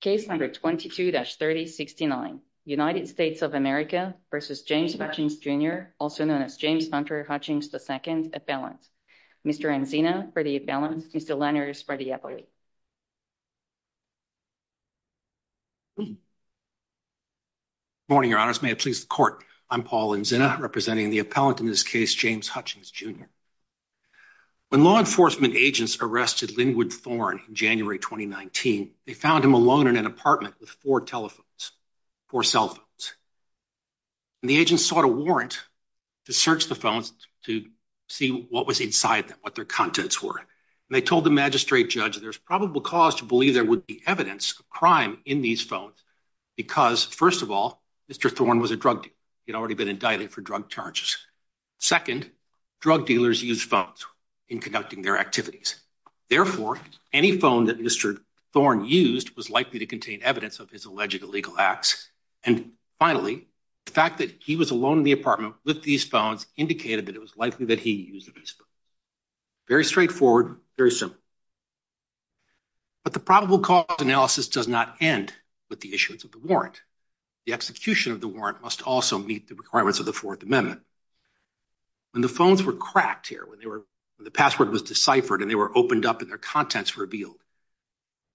Case number 22-3069, United States of America v. James Hutchings, Jr., also known as James Hunter Hutchings II, appellant. Mr. Anzina, for the appellant. Mr. Lenners, for the appellate. Good morning, Your Honors. May it please the Court, I'm Paul Anzina, representing the appellant in this case, James Hutchings, Jr. When law enforcement agents arrested Linwood Thorne in January 2019, they found him alone in an apartment with four telephones, four cell phones. And the agents sought a warrant to search the phones to see what was inside them, what their contents were. And they told the magistrate judge there's probable cause to believe there would be evidence of crime in these phones. Because, first of all, Mr. Thorne was a drug dealer. He had already been indicted for drug charges. Second, drug dealers use phones in conducting their activities. Therefore, any phone that Mr. Thorne used was likely to contain evidence of his alleged illegal acts. And finally, the fact that he was alone in the apartment with these phones indicated that it was likely that he used these phones. Very straightforward, very simple. But the probable cause analysis does not end with the issuance of the warrant. In fact, the execution of the warrant must also meet the requirements of the Fourth Amendment. When the phones were cracked here, when the password was deciphered and they were opened up and their contents revealed,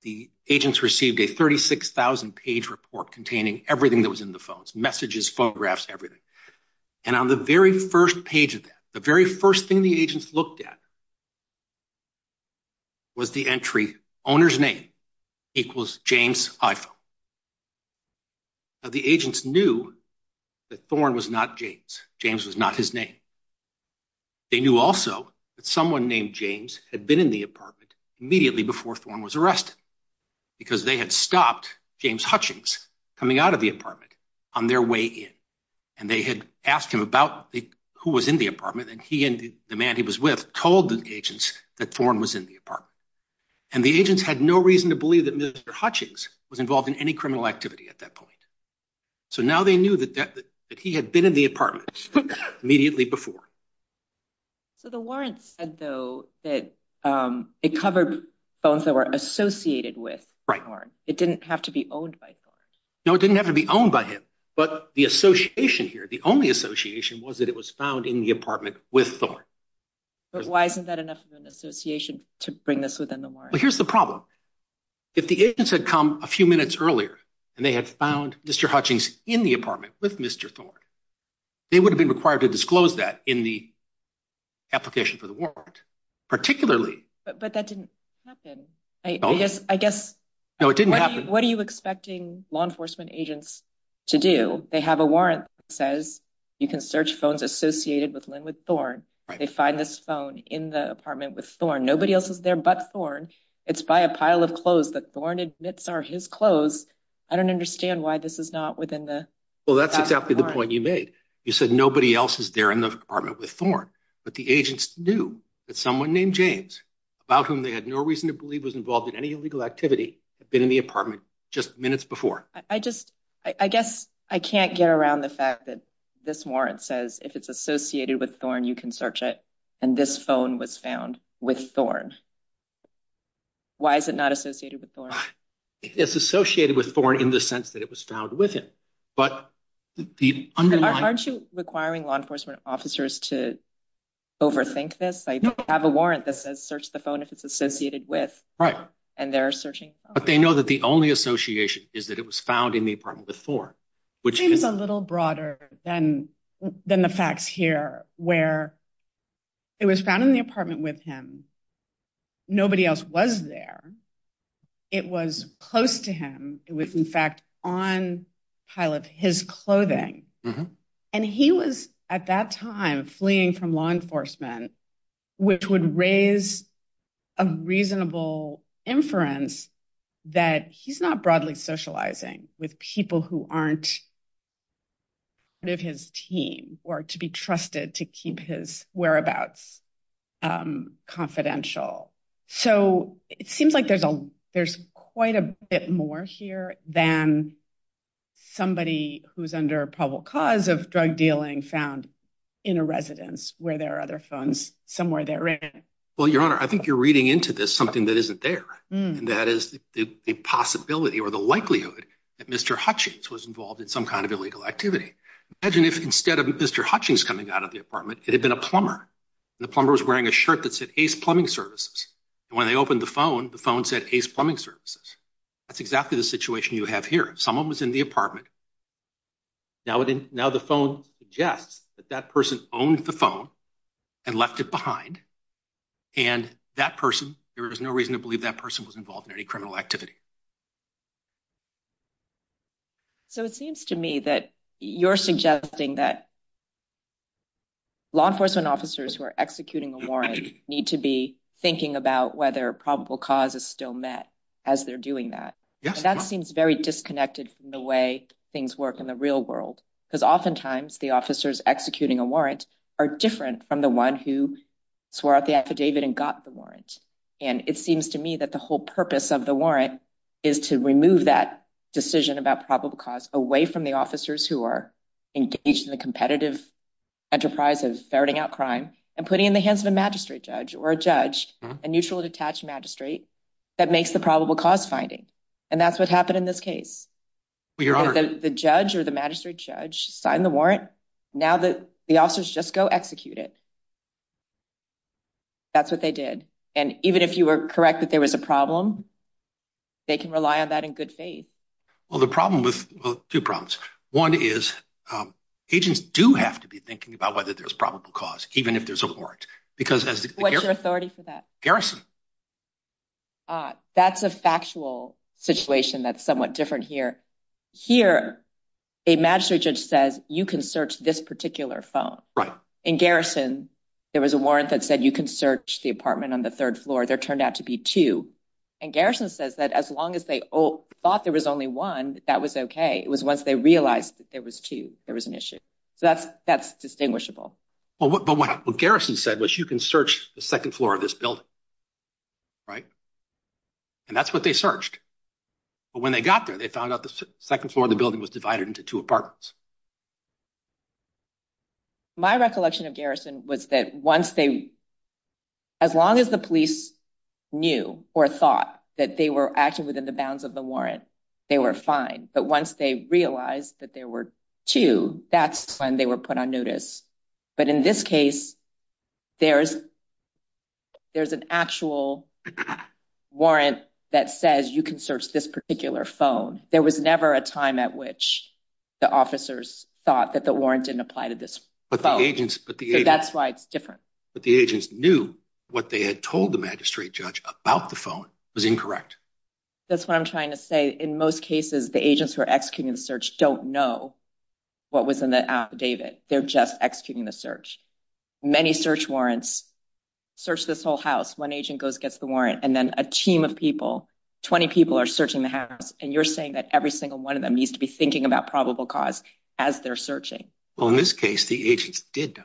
the agents received a 36,000-page report containing everything that was in the phones, messages, photographs, everything. And on the very first page of that, the very first thing the agents looked at was the entry owner's name equals James iPhone. Now, the agents knew that Thorne was not James. James was not his name. They knew also that someone named James had been in the apartment immediately before Thorne was arrested because they had stopped James Hutchings coming out of the apartment on their way in. And they had asked him about who was in the apartment. And he and the man he was with told the agents that Thorne was in the apartment. And the agents had no reason to believe that Mr. Hutchings was involved in any criminal activity at that point. So now they knew that he had been in the apartment immediately before. So the warrant said, though, that it covered phones that were associated with Thorne. It didn't have to be owned by Thorne. No, it didn't have to be owned by him. But the association here, the only association was that it was found in the apartment with Thorne. But why isn't that enough of an association to bring this within the warrant? Well, here's the problem. If the agents had come a few minutes earlier and they had found Mr. Hutchings in the apartment with Mr. Thorne, they would have been required to disclose that in the application for the warrant, particularly. But that didn't happen. I guess. No, it didn't happen. What are you expecting law enforcement agents to do? They have a warrant that says you can search phones associated with Lynn with Thorne. They find this phone in the apartment with Thorne. Nobody else is there but Thorne. It's by a pile of clothes that Thorne admits are his clothes. I don't understand why this is not within the. Well, that's exactly the point you made. You said nobody else is there in the apartment with Thorne. But the agents knew that someone named James, about whom they had no reason to believe was involved in any illegal activity, had been in the apartment just minutes before. I guess I can't get around the fact that this warrant says if it's associated with Thorne, you can search it. And this phone was found with Thorne. Why is it not associated with Thorne? It's associated with Thorne in the sense that it was found with him. Aren't you requiring law enforcement officers to overthink this? I have a warrant that says search the phone if it's associated with Thorne. And they're searching. But they know that the only association is that it was found in the apartment with Thorne. It seems a little broader than the facts here, where it was found in the apartment with him. Nobody else was there. It was close to him. It was, in fact, on a pile of his clothing. And he was at that time fleeing from law enforcement, which would raise a reasonable inference that he's not broadly socializing with people who aren't part of his team or to be trusted to keep his whereabouts confidential. So it seems like there's quite a bit more here than somebody who's under probable cause of drug dealing found in a residence where there are other phones somewhere there. Well, Your Honor, I think you're reading into this something that isn't there. And that is the possibility or the likelihood that Mr. Hutchings was involved in some kind of illegal activity. Imagine if instead of Mr. Hutchings coming out of the apartment, it had been a plumber. And the plumber was wearing a shirt that said Ace Plumbing Services. And when they opened the phone, the phone said Ace Plumbing Services. That's exactly the situation you have here. Someone was in the apartment. Now the phone suggests that that person owned the phone and left it behind. And that person, there is no reason to believe that person was involved in any criminal activity. So it seems to me that you're suggesting that law enforcement officers who are executing a warrant need to be thinking about whether probable cause is still met as they're doing that. That seems very disconnected from the way things work in the real world, because oftentimes the officers executing a warrant are different from the one who swore out the affidavit and got the warrant. And it seems to me that the whole purpose of the warrant is to remove that decision about probable cause away from the officers who are engaged in the competitive enterprise of ferreting out crime and putting in the hands of a magistrate judge or a judge, a neutrally detached magistrate that makes the probable cause finding. And that's what happened in this case. The judge or the magistrate judge signed the warrant. Now the officers just go execute it. That's what they did. And even if you were correct that there was a problem, they can rely on that in good faith. Well, the problem with two problems. One is agents do have to be thinking about whether there's probable cause, even if there's a warrant, because as the authority for that garrison, that's a factual situation. That's somewhat different here. Here, a magistrate judge says you can search this particular phone. In garrison, there was a warrant that said you can search the apartment on the third floor. There turned out to be two. And garrison says that as long as they thought there was only one, that was okay. It was once they realized that there was two, there was an issue. So that's distinguishable. But what garrison said was you can search the second floor of this building. Right. And that's what they searched. But when they got there, they found out the second floor of the building was divided into two apartments. My recollection of garrison was that once they, as long as the police knew or thought that they were actually within the bounds of the warrant, they were fine. But once they realized that there were two, that's when they were put on notice. But in this case, there's an actual warrant that says you can search this particular phone. There was never a time at which the officers thought that the warrant didn't apply to this phone. So that's why it's different. But the agents knew what they had told the magistrate judge about the phone was incorrect. That's what I'm trying to say. In most cases, the agents who are executing the search don't know what was in the affidavit. They're just executing the search. Many search warrants search this whole house. One agent goes, gets the warrant, and then a team of people, 20 people, are searching the house. And you're saying that every single one of them needs to be thinking about probable cause as they're searching. Well, in this case, the agents did know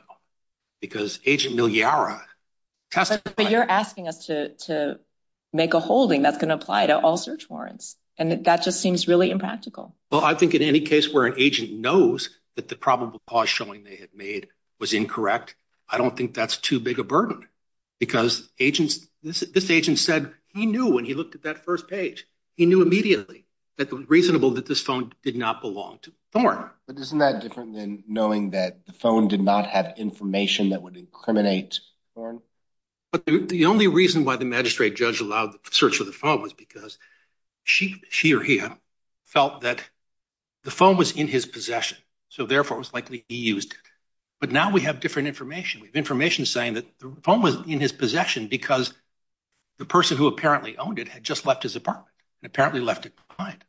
because Agent Miliara testified. But you're asking us to make a holding that's going to apply to all search warrants. And that just seems really impractical. Well, I think in any case where an agent knows that the probable cause showing they had made was incorrect, I don't think that's too big a burden because this agent said he knew when he looked at that first page. He knew immediately that it was reasonable that this phone did not belong to Thorne. But isn't that different than knowing that the phone did not have information that would incriminate Thorne? The only reason why the magistrate judge allowed the search of the phone was because she or he felt that the phone was in his possession. So, therefore, it was likely he used it. But now we have different information. We have information saying that the phone was in his possession because the person who apparently owned it had just left his apartment and apparently left it behind.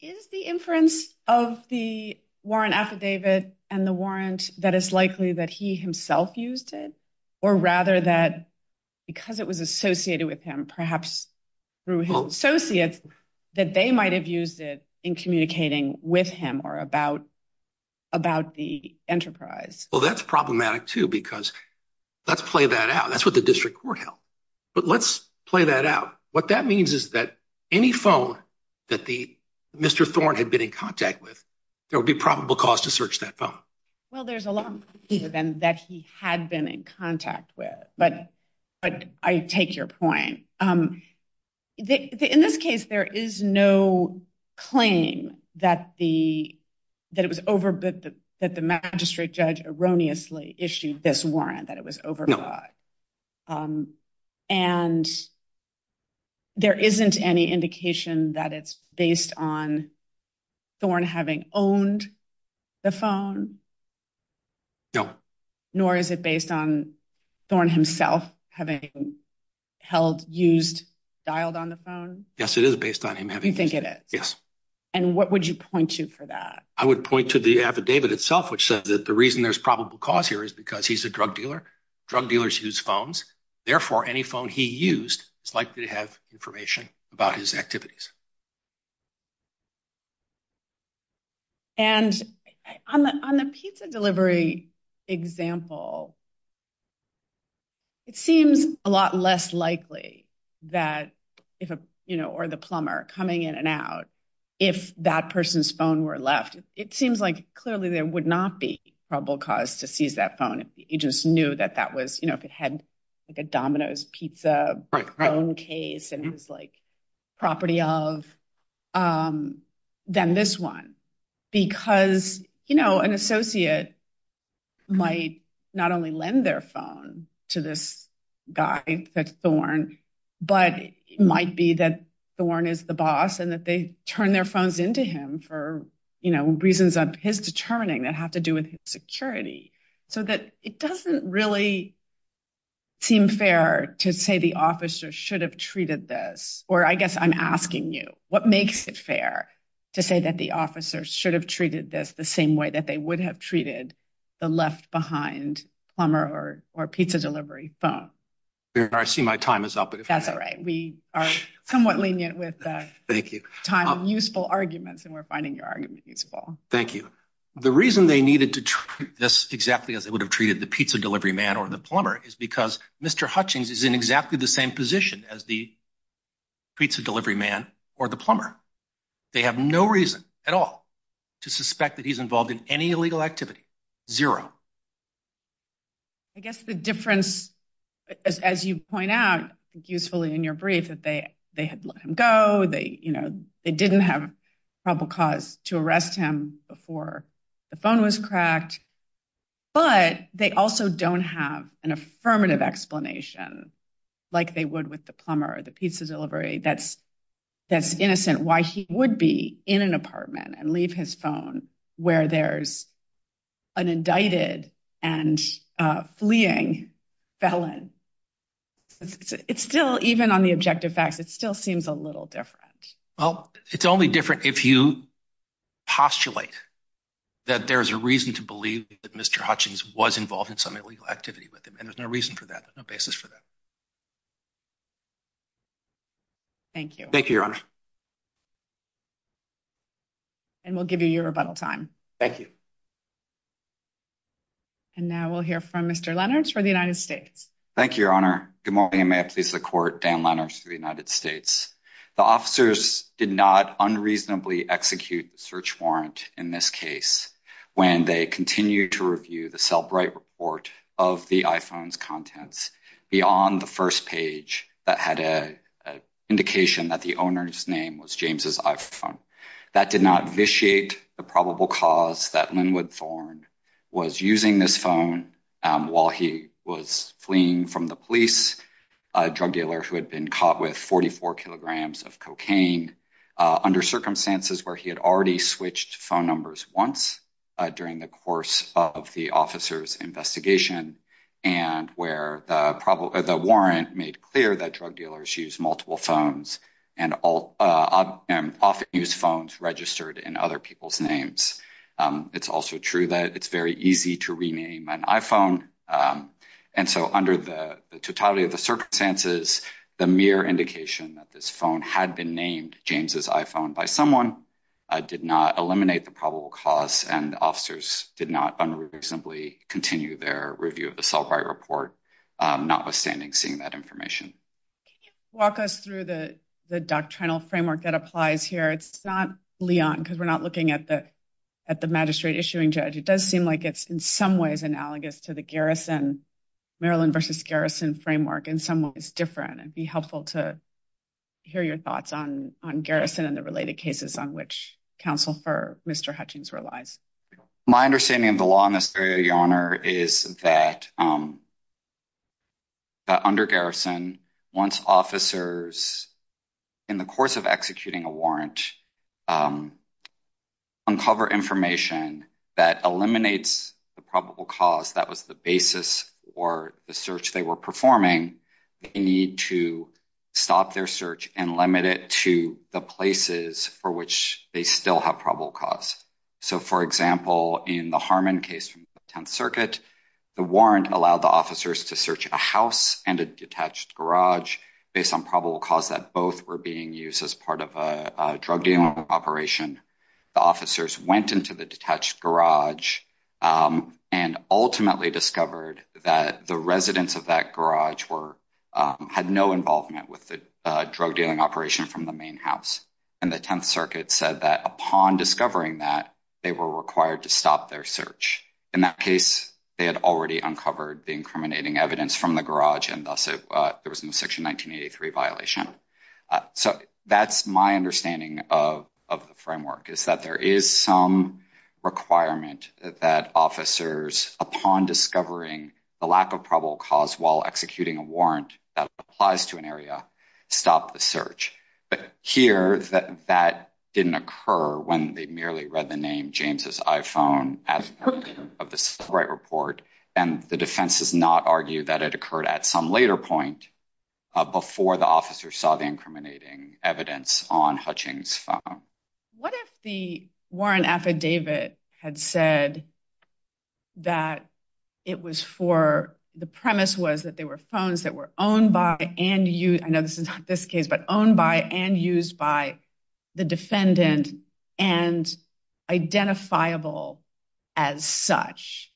Is the inference of the warrant affidavit and the warrant that it's likely that he himself used it, or rather that because it was associated with him, perhaps through his associates, that they might have used it in communicating with him or about the enterprise? Well, that's problematic, too, because let's play that out. That's what the district court held. But let's play that out. What that means is that any phone that Mr. Thorne had been in contact with, there would be probable cause to search that phone. Well, there's a lot more than that he had been in contact with. But I take your point. In this case, there is no claim that the magistrate judge erroneously issued this warrant, that it was overbought. And there isn't any indication that it's based on Thorne having owned the phone? No. Nor is it based on Thorne himself having held, used, dialed on the phone? Yes, it is based on him having used it. You think it is? Yes. And what would you point to for that? I would point to the affidavit itself, which says that the reason there's probable cause here is because he's a drug dealer. Drug dealers use phones. Therefore, any phone he used is likely to have information about his activities. And on the pizza delivery example, it seems a lot less likely that, you know, or the plumber coming in and out, if that person's phone were left. It seems like clearly there would not be probable cause to seize that phone if he just knew that that was, you know, if it had like a Domino's pizza phone case and it was like property of. Then this one, because, you know, an associate might not only lend their phone to this guy, Thorne, but it might be that Thorne is the boss and that they turn their phones into him for, you know, reasons of his determining that have to do with security. So that it doesn't really seem fair to say the officer should have treated this. Or I guess I'm asking you what makes it fair to say that the officers should have treated this the same way that they would have treated the left behind plumber or pizza delivery phone. I see my time is up. That's all right. We are somewhat lenient with time and useful arguments and we're finding your argument useful. Thank you. The reason they needed to treat this exactly as they would have treated the pizza delivery man or the plumber is because Mr. Hutchings is in exactly the same position as the pizza delivery man or the plumber. They have no reason at all to suspect that he's involved in any illegal activity. Zero. I guess the difference, as you point out usefully in your brief that they they had let him go. They, you know, they didn't have probable cause to arrest him before the phone was cracked. But they also don't have an affirmative explanation like they would with the plumber or the pizza delivery. That's that's innocent. Why he would be in an apartment and leave his phone where there's an indicted and fleeing felon. It's still even on the objective facts. It still seems a little different. Well, it's only different if you postulate that there's a reason to believe that Mr. Hutchings was involved in some illegal activity with him. And there's no reason for that. No basis for that. Thank you. Thank you, Your Honor. And we'll give you your rebuttal time. Thank you. And now we'll hear from Mr. Leonard's for the United States. Thank you, Your Honor. Good morning. May I please the court. The officers did not unreasonably execute the search warrant in this case. When they continue to review the cell bright report of the iPhones contents beyond the first page that had a indication that the owner's name was James's iPhone. That did not vitiate the probable cause that Linwood Thorn was using this phone while he was fleeing from the police drug dealer who had been caught with 44 kilograms of cocaine under circumstances where he had already switched phone numbers once during the course of the officer's investigation. And where the warrant made clear that drug dealers use multiple phones and often use phones registered in other people's names. It's also true that it's very easy to rename an iPhone. And so under the totality of the circumstances, the mere indication that this phone had been named James's iPhone by someone did not eliminate the probable cause. And officers did not unreasonably continue their review of the cell by report, notwithstanding seeing that information. Walk us through the doctrinal framework that applies here. It's not Leon because we're not looking at the. At the magistrate issuing judge, it does seem like it's in some ways analogous to the garrison Maryland versus garrison framework in some ways different and be helpful to hear your thoughts on on garrison and the related cases on which counsel for Mr. Hutchings relies. My understanding of the law in this area, your honor, is that. Under garrison, once officers in the course of executing a warrant. Uncover information that eliminates the probable cause that was the basis or the search they were performing. They need to stop their search and limit it to the places for which they still have probable cause. So, for example, in the Harmon case from 10th circuit, the warrant allowed the officers to search a house and a detached garage based on probable cause that both were being used as part of a drug deal operation. The officers went into the detached garage and ultimately discovered that the residents of that garage were had no involvement with the drug dealing operation from the main house. And the 10th circuit said that upon discovering that they were required to stop their search. In that case, they had already uncovered the incriminating evidence from the garage and there was no section 1983 violation. So that's my understanding of of the framework is that there is some requirement that officers upon discovering the lack of probable cause while executing a warrant that applies to an area stop the search. But here that that didn't occur when they merely read the name James's iPhone of the right report. And the defense does not argue that it occurred at some later point before the officer saw the incriminating evidence on Hutchings. What if the warrant affidavit had said that it was for the premise was that they were phones that were owned by and used? I know this is this case, but owned by and used by the defendant and identifiable as such.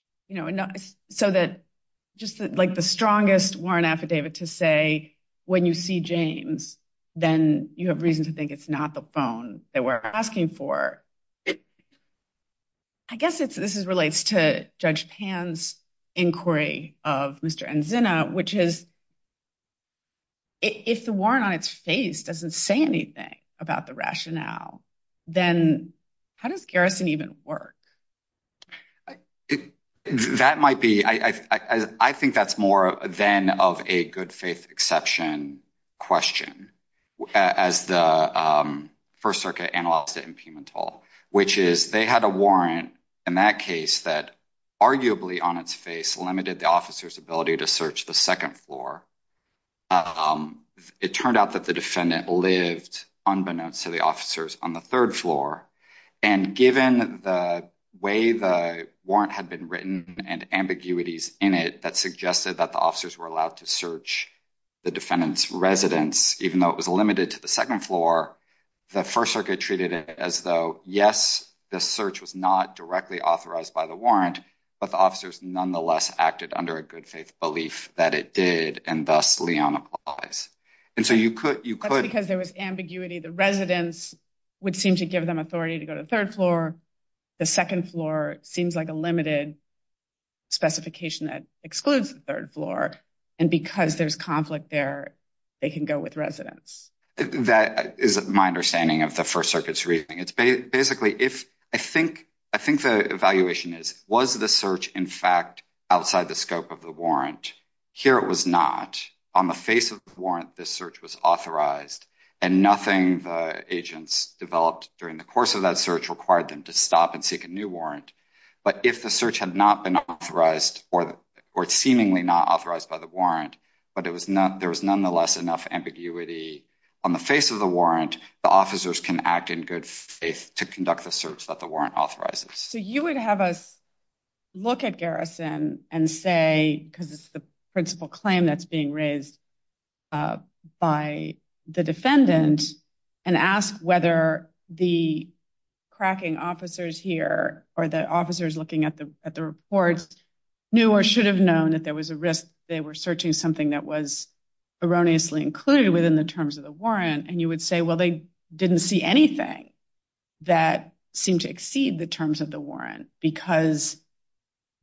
So that just like the strongest warrant affidavit to say when you see James, then you have reason to think it's not the phone that we're asking for. I guess it's this is relates to judge pans inquiry of Mr. and which is. If the warrant on its face doesn't say anything about the rationale, then how does Garrison even work? That might be I, I, I think that's more than of a good faith exception question as the 1st Circuit analysis and Pimentel, which is they had a warrant in that case that arguably on its face limited the officer's ability to search the 2nd floor. It turned out that the defendant lived unbeknownst to the officers on the 3rd floor and given the way the warrant had been written and ambiguities in it, that suggested that the officers were allowed to search. The defendant's residence, even though it was limited to the 2nd floor, the 1st circuit treated it as though yes, the search was not directly authorized by the warrant, but the officers nonetheless acted under a good faith belief that it did. And so you could, you could because there was ambiguity, the residents would seem to give them authority to go to the 3rd floor. The 2nd floor seems like a limited specification that excludes the 3rd floor. And because there's conflict there, they can go with residents. That is my understanding of the 1st circuit's reading. It's basically if I think, I think the evaluation is, was the search in fact, outside the scope of the warrant here? It was not on the face of warrant. And nothing the agents developed during the course of that search required them to stop and seek a new warrant. But if the search had not been authorized, or it's seemingly not authorized by the warrant, but it was not, there was nonetheless enough ambiguity on the face of the warrant, the officers can act in good faith to conduct the search that the warrant authorizes. So you would have us look at garrison and say, because it's the principal claim that's being raised by the defendant and ask whether the cracking officers here, or the officers looking at the, at the reports, knew or should have known that there was a risk. Because they were searching something that was erroneously included within the terms of the warrant. And you would say, well, they didn't see anything that seemed to exceed the terms of the warrant because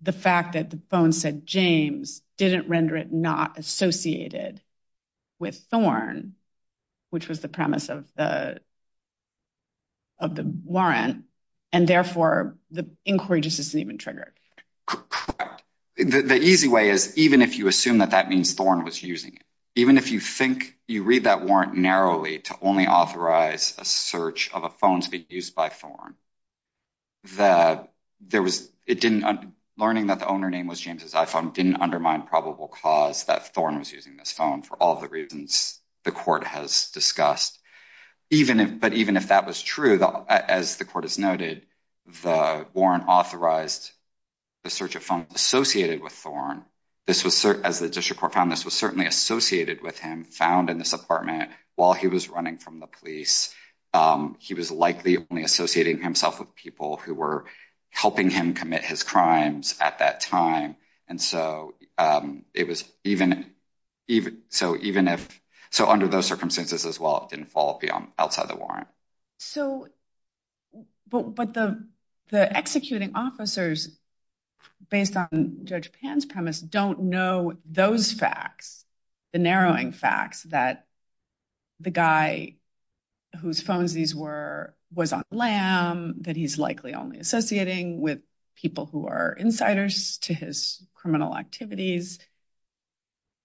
the fact that the phone said James didn't render it not associated with Thorn, which was the premise of the, of the warrant. And therefore the inquiry just isn't even triggered. The easy way is, even if you assume that that means Thorn was using it, even if you think you read that warrant narrowly to only authorize a search of a phone to be used by Thorn. That there was, it didn't, learning that the owner name was James's iPhone didn't undermine probable cause that Thorn was using this phone for all the reasons the court has discussed. But even if that was true, as the court has noted, the warrant authorized the search of phones associated with Thorn. This was, as the district court found, this was certainly associated with him, found in this apartment while he was running from the police. He was likely only associating himself with people who were helping him commit his crimes at that time. And so it was even, so even if, so under those circumstances as well, it didn't fall outside the warrant. So, but the, the executing officers, based on Judge Pan's premise, don't know those facts, the narrowing facts that the guy whose phones these were, was on LAM, that he's likely only associating with people who are insiders to his criminal activities.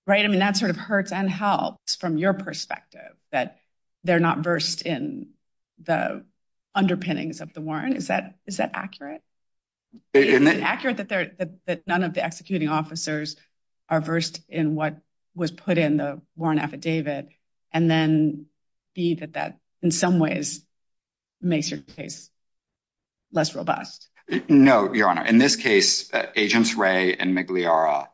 Right. I mean, that sort of hurts and helps from your perspective that they're not versed in the underpinnings of the warrant. Is that, is that accurate? Is it accurate that they're, that none of the executing officers are versed in what was put in the warrant affidavit and then be that that in some ways makes your case less robust? No, Your Honor. In this case, Agents Ray and Migliara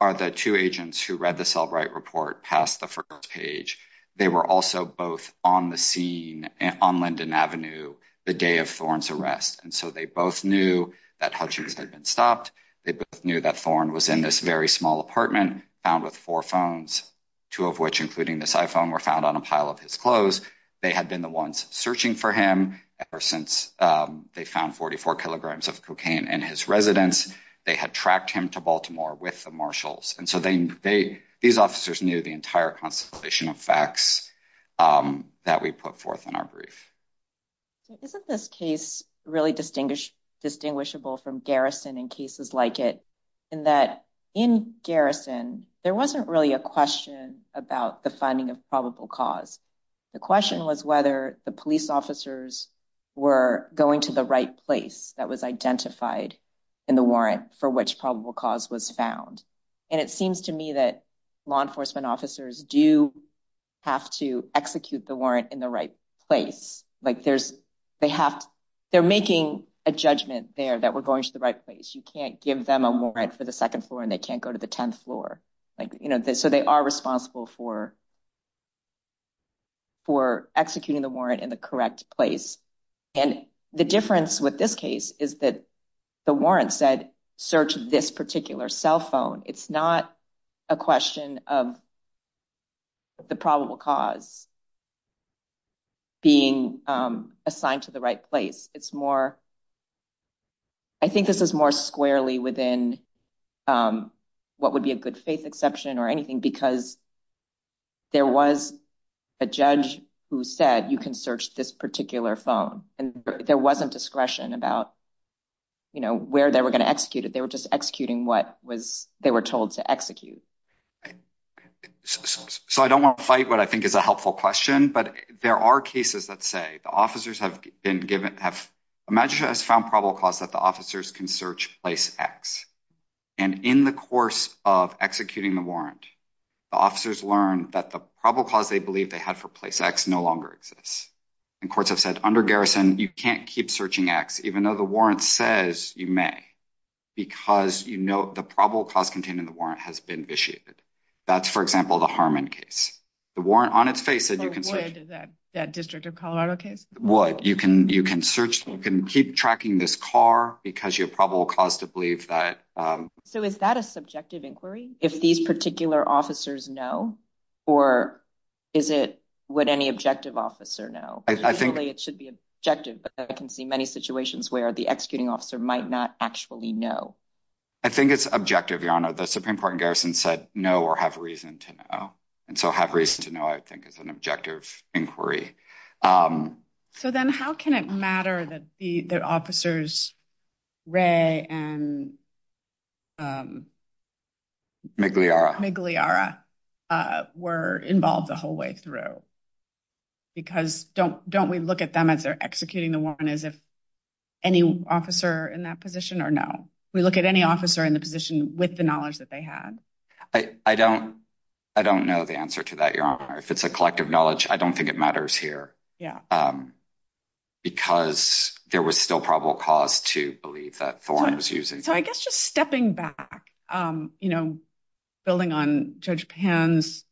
are the two agents who read the Selbright report past the first page. They were also both on the scene on Linden Avenue the day of Thorn's arrest. And so they both knew that Hutchings had been stopped. They both knew that Thorn was in this very small apartment found with four phones, two of which, including this iPhone, were found on a pile of his clothes. They had been the ones searching for him ever since they found 44 kilograms of cocaine in his residence. They had tracked him to Baltimore with the marshals. And so they, they, these officers knew the entire constellation of facts that we put forth in our brief. Isn't this case really distinguished, distinguishable from garrison in cases like it? And that in garrison, there wasn't really a question about the finding of probable cause. The question was whether the police officers were going to the right place that was identified in the warrant for which probable cause was found. And it seems to me that law enforcement officers do have to execute the warrant in the right place. Like there's, they have, they're making a judgment there that we're going to the right place. You can't give them a warrant for the second floor and they can't go to the 10th floor. Like, you know, so they are responsible for, for executing the warrant in the correct place. And the difference with this case is that the warrant said, search this particular cell phone. It's not a question of the probable cause being assigned to the right place. It's more, I think this is more squarely within what would be a good faith exception or anything. Because there was a judge who said, you can search this particular phone. And there wasn't discretion about, you know, where they were going to execute it. They were just executing what was, they were told to execute. So I don't want to fight what I think is a helpful question. But there are cases that say the officers have been given, have found probable cause that the officers can search place X. And in the course of executing the warrant, the officers learned that the probable cause they believe they had for place X no longer exists. And courts have said under garrison, you can't keep searching X, even though the warrant says you may. Because you know, the probable cause contained in the warrant has been initiated. That's, for example, the Harmon case. The warrant on its face said you can search. That district of Colorado case? You can search, you can keep tracking this car because you're probable cause to believe that. So is that a subjective inquiry? If these particular officers know, or is it what any objective officer know? I think it should be objective. But I can see many situations where the executing officer might not actually know. I think it's objective, your honor. The Supreme Court and garrison said no or have reason to know. And so have reason to know, I think is an objective inquiry. So then how can it matter that officers Ray and Migliara were involved the whole way through? Because don't we look at them as they're executing the warrant as if any officer in that position or no? We look at any officer in the position with the knowledge that they had? I don't know the answer to that, your honor. If it's a collective knowledge, I don't think it matters here. Because there was still probable cause to believe that Thorne was using. So I guess just stepping back, building on Judge Pan's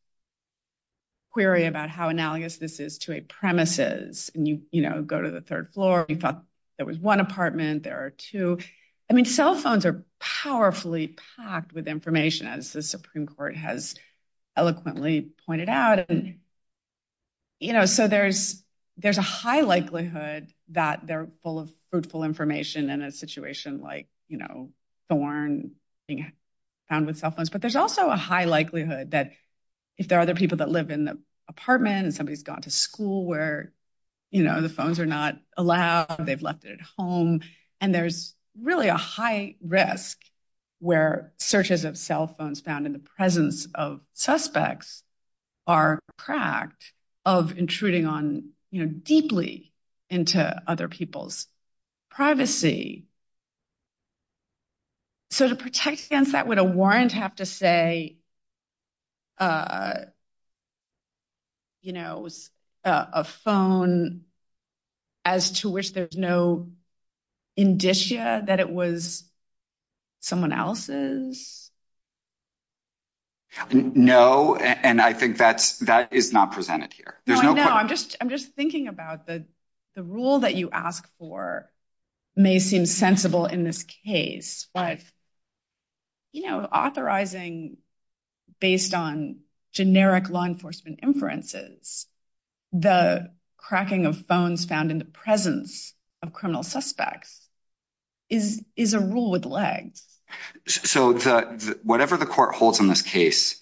query about how analogous this is to a premises. And you go to the third floor, you thought there was one apartment, there are two. I mean, cell phones are powerfully packed with information as the Supreme Court has eloquently pointed out. So there's a high likelihood that they're full of fruitful information in a situation like Thorne being found with cell phones. But there's also a high likelihood that if there are other people that live in the apartment and somebody's gone to school where the phones are not allowed, they've left it at home. And there's really a high risk where searches of cell phones found in the presence of suspects are cracked of intruding on deeply into other people's privacy. So to protect against that, would a warrant have to say, you know, a phone as to which there's no indicia that it was someone else's? No, and I think that is not presented here. I'm just I'm just thinking about the the rule that you ask for may seem sensible in this case. But, you know, authorizing based on generic law enforcement inferences, the cracking of phones found in the presence of criminal suspects is is a rule with legs. So whatever the court holds in this case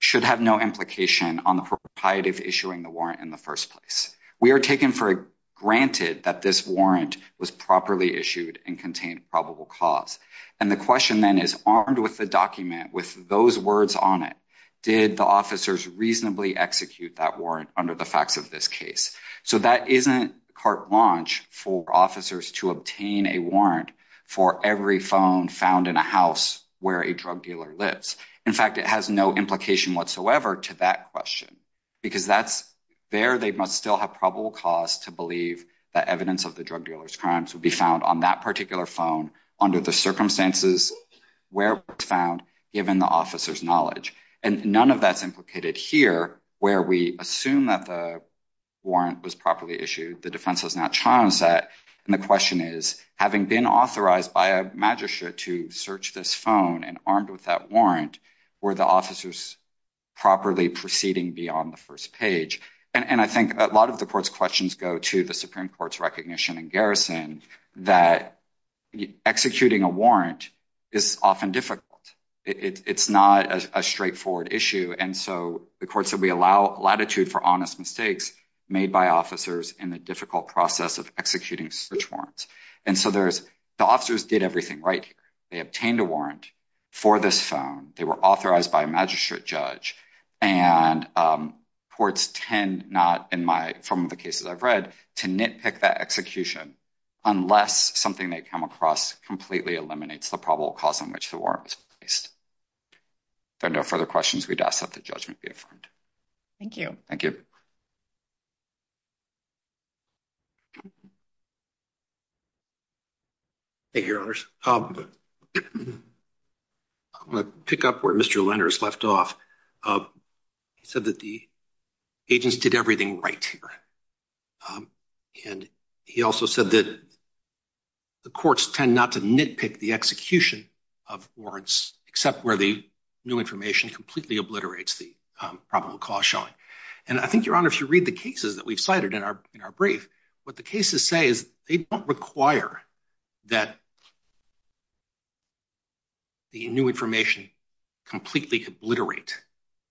should have no implication on the proprietor of issuing the warrant in the first place. We are taken for granted that this warrant was properly issued and contained probable cause. And the question then is armed with the document with those words on it. Did the officers reasonably execute that warrant under the facts of this case? So that isn't carte blanche for officers to obtain a warrant for every phone found in a house where a drug dealer lives. In fact, it has no implication whatsoever to that question because that's there. They must still have probable cause to believe that evidence of the drug dealers crimes would be found on that particular phone under the circumstances where it's found, given the officer's knowledge. And none of that's implicated here where we assume that the warrant was properly issued. The defense has not charged that. And the question is, having been authorized by a magistrate to search this phone and armed with that warrant, were the officers properly proceeding beyond the first page? And I think a lot of the court's questions go to the Supreme Court's recognition and garrison that executing a warrant is often difficult. It's not a straightforward issue. And so the court said, we allow latitude for honest mistakes made by officers in the difficult process of executing search warrants. And so the officers did everything right. They obtained a warrant for this phone. They were authorized by a magistrate judge. And courts tend not, in my, from the cases I've read, to nitpick that execution unless something they come across completely eliminates the probable cause on which the warrant was placed. If there are no further questions, we'd ask that the judgment be affirmed. Thank you. Thank you. Thank you, Your Honors. I'm going to pick up where Mr. Lenders left off. He said that the agents did everything right here. And he also said that the courts tend not to nitpick the execution of warrants except where the new information completely obliterates the probable cause showing. And I think, Your Honor, if you read the cases that we've cited in our brief, what the cases say is they don't require that the new information completely obliterate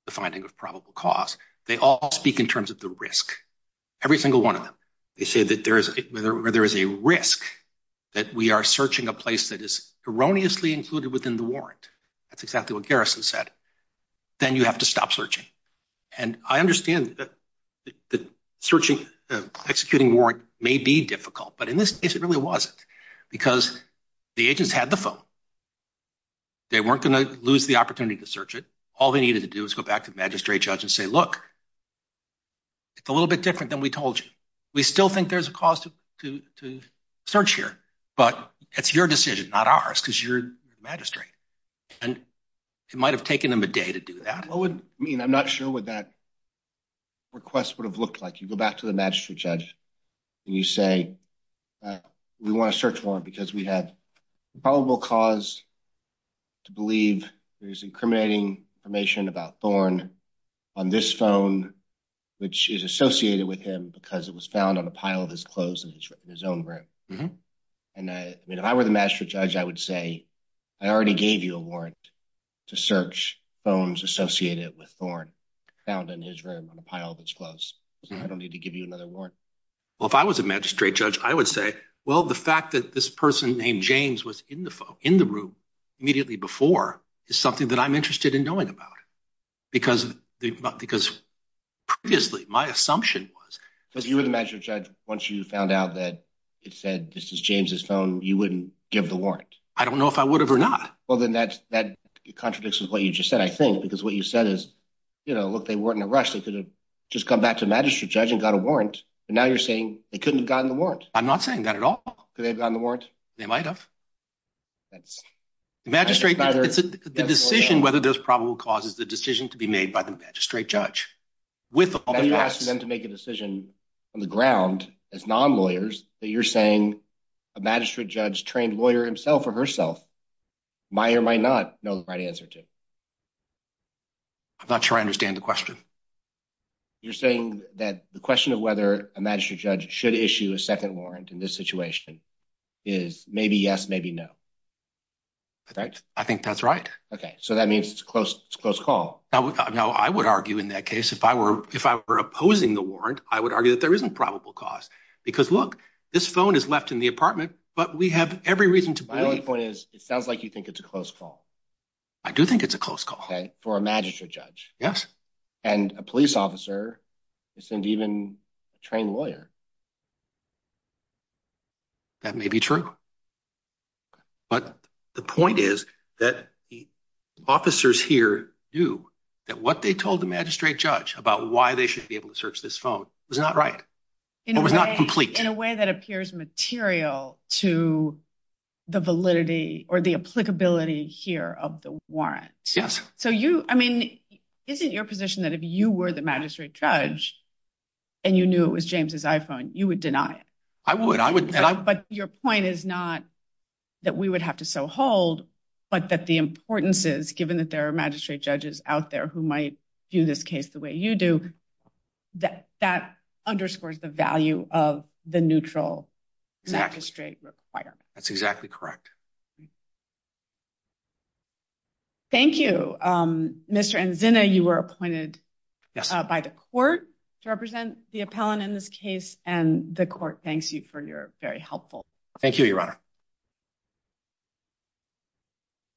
the finding of probable cause. They all speak in terms of the risk, every single one of them. They say that there is a risk that we are searching a place that is erroneously included within the warrant. That's exactly what Garrison said. Then you have to stop searching. And I understand that the searching, executing warrant may be difficult. But in this case, it really wasn't because the agents had the phone. They weren't going to lose the opportunity to search it. All they needed to do was go back to the magistrate judge and say, look, it's a little bit different than we told you. We still think there's a cause to search here, but it's your decision, not ours, because you're the magistrate. And it might have taken them a day to do that. I mean, I'm not sure what that request would have looked like. You go back to the magistrate judge and you say we want to search warrant because we have probable cause to believe there is incriminating information about Thorn on this phone, which is associated with him because it was found on a pile of his clothes in his own room. And I mean, if I were the magistrate judge, I would say I already gave you a warrant to search phones associated with Thorn found in his room on a pile of his clothes. I don't need to give you another warrant. Well, if I was a magistrate judge, I would say, well, the fact that this person named James was in the phone in the room immediately before is something that I'm interested in knowing about. Because because previously my assumption was that you were the magistrate judge. Once you found out that it said this is James's phone, you wouldn't give the warrant. I don't know if I would have or not. Well, then that's that contradicts what you just said, I think, because what you said is, you know, look, they weren't in a rush. They could have just come back to magistrate judge and got a warrant. And now you're saying they couldn't have gotten the warrant. They've gotten the warrant. They might have. That's the magistrate. It's the decision whether there's probable causes the decision to be made by the magistrate judge with them to make a decision on the ground as non lawyers that you're saying a magistrate judge trained lawyer himself or herself. Meyer might not know the right answer to. I'm not sure I understand the question. You're saying that the question of whether a magistrate judge should issue a second warrant in this situation is maybe yes, maybe no. I think that's right. Okay. So that means it's close. It's close call. Now, I would argue in that case, if I were if I were opposing the warrant, I would argue that there isn't probable cause because look, this phone is left in the apartment, but we have every reason to point is it sounds like you think it's a close call. I do think it's a close call for a magistrate judge. Yes. And a police officer isn't even a trained lawyer. That may be true. But the point is that the officers here do that what they told the magistrate judge about why they should be able to search this phone was not right. It was not complete in a way that appears material to the validity or the applicability here of the warrant. Yes. So you I mean, isn't your position that if you were the magistrate judge, and you knew it was James's iPhone, you would deny it. I would I would. But your point is not that we would have to so hold, but that the importance is given that there are magistrate judges out there who might do this case the way you do that. That underscores the value of the neutral magistrate requirement. That's exactly correct. Thank you, Mr. Zinna. You were appointed by the court to represent the appellant in this case, and the court thanks you for your very helpful. Thank you, Your Honor.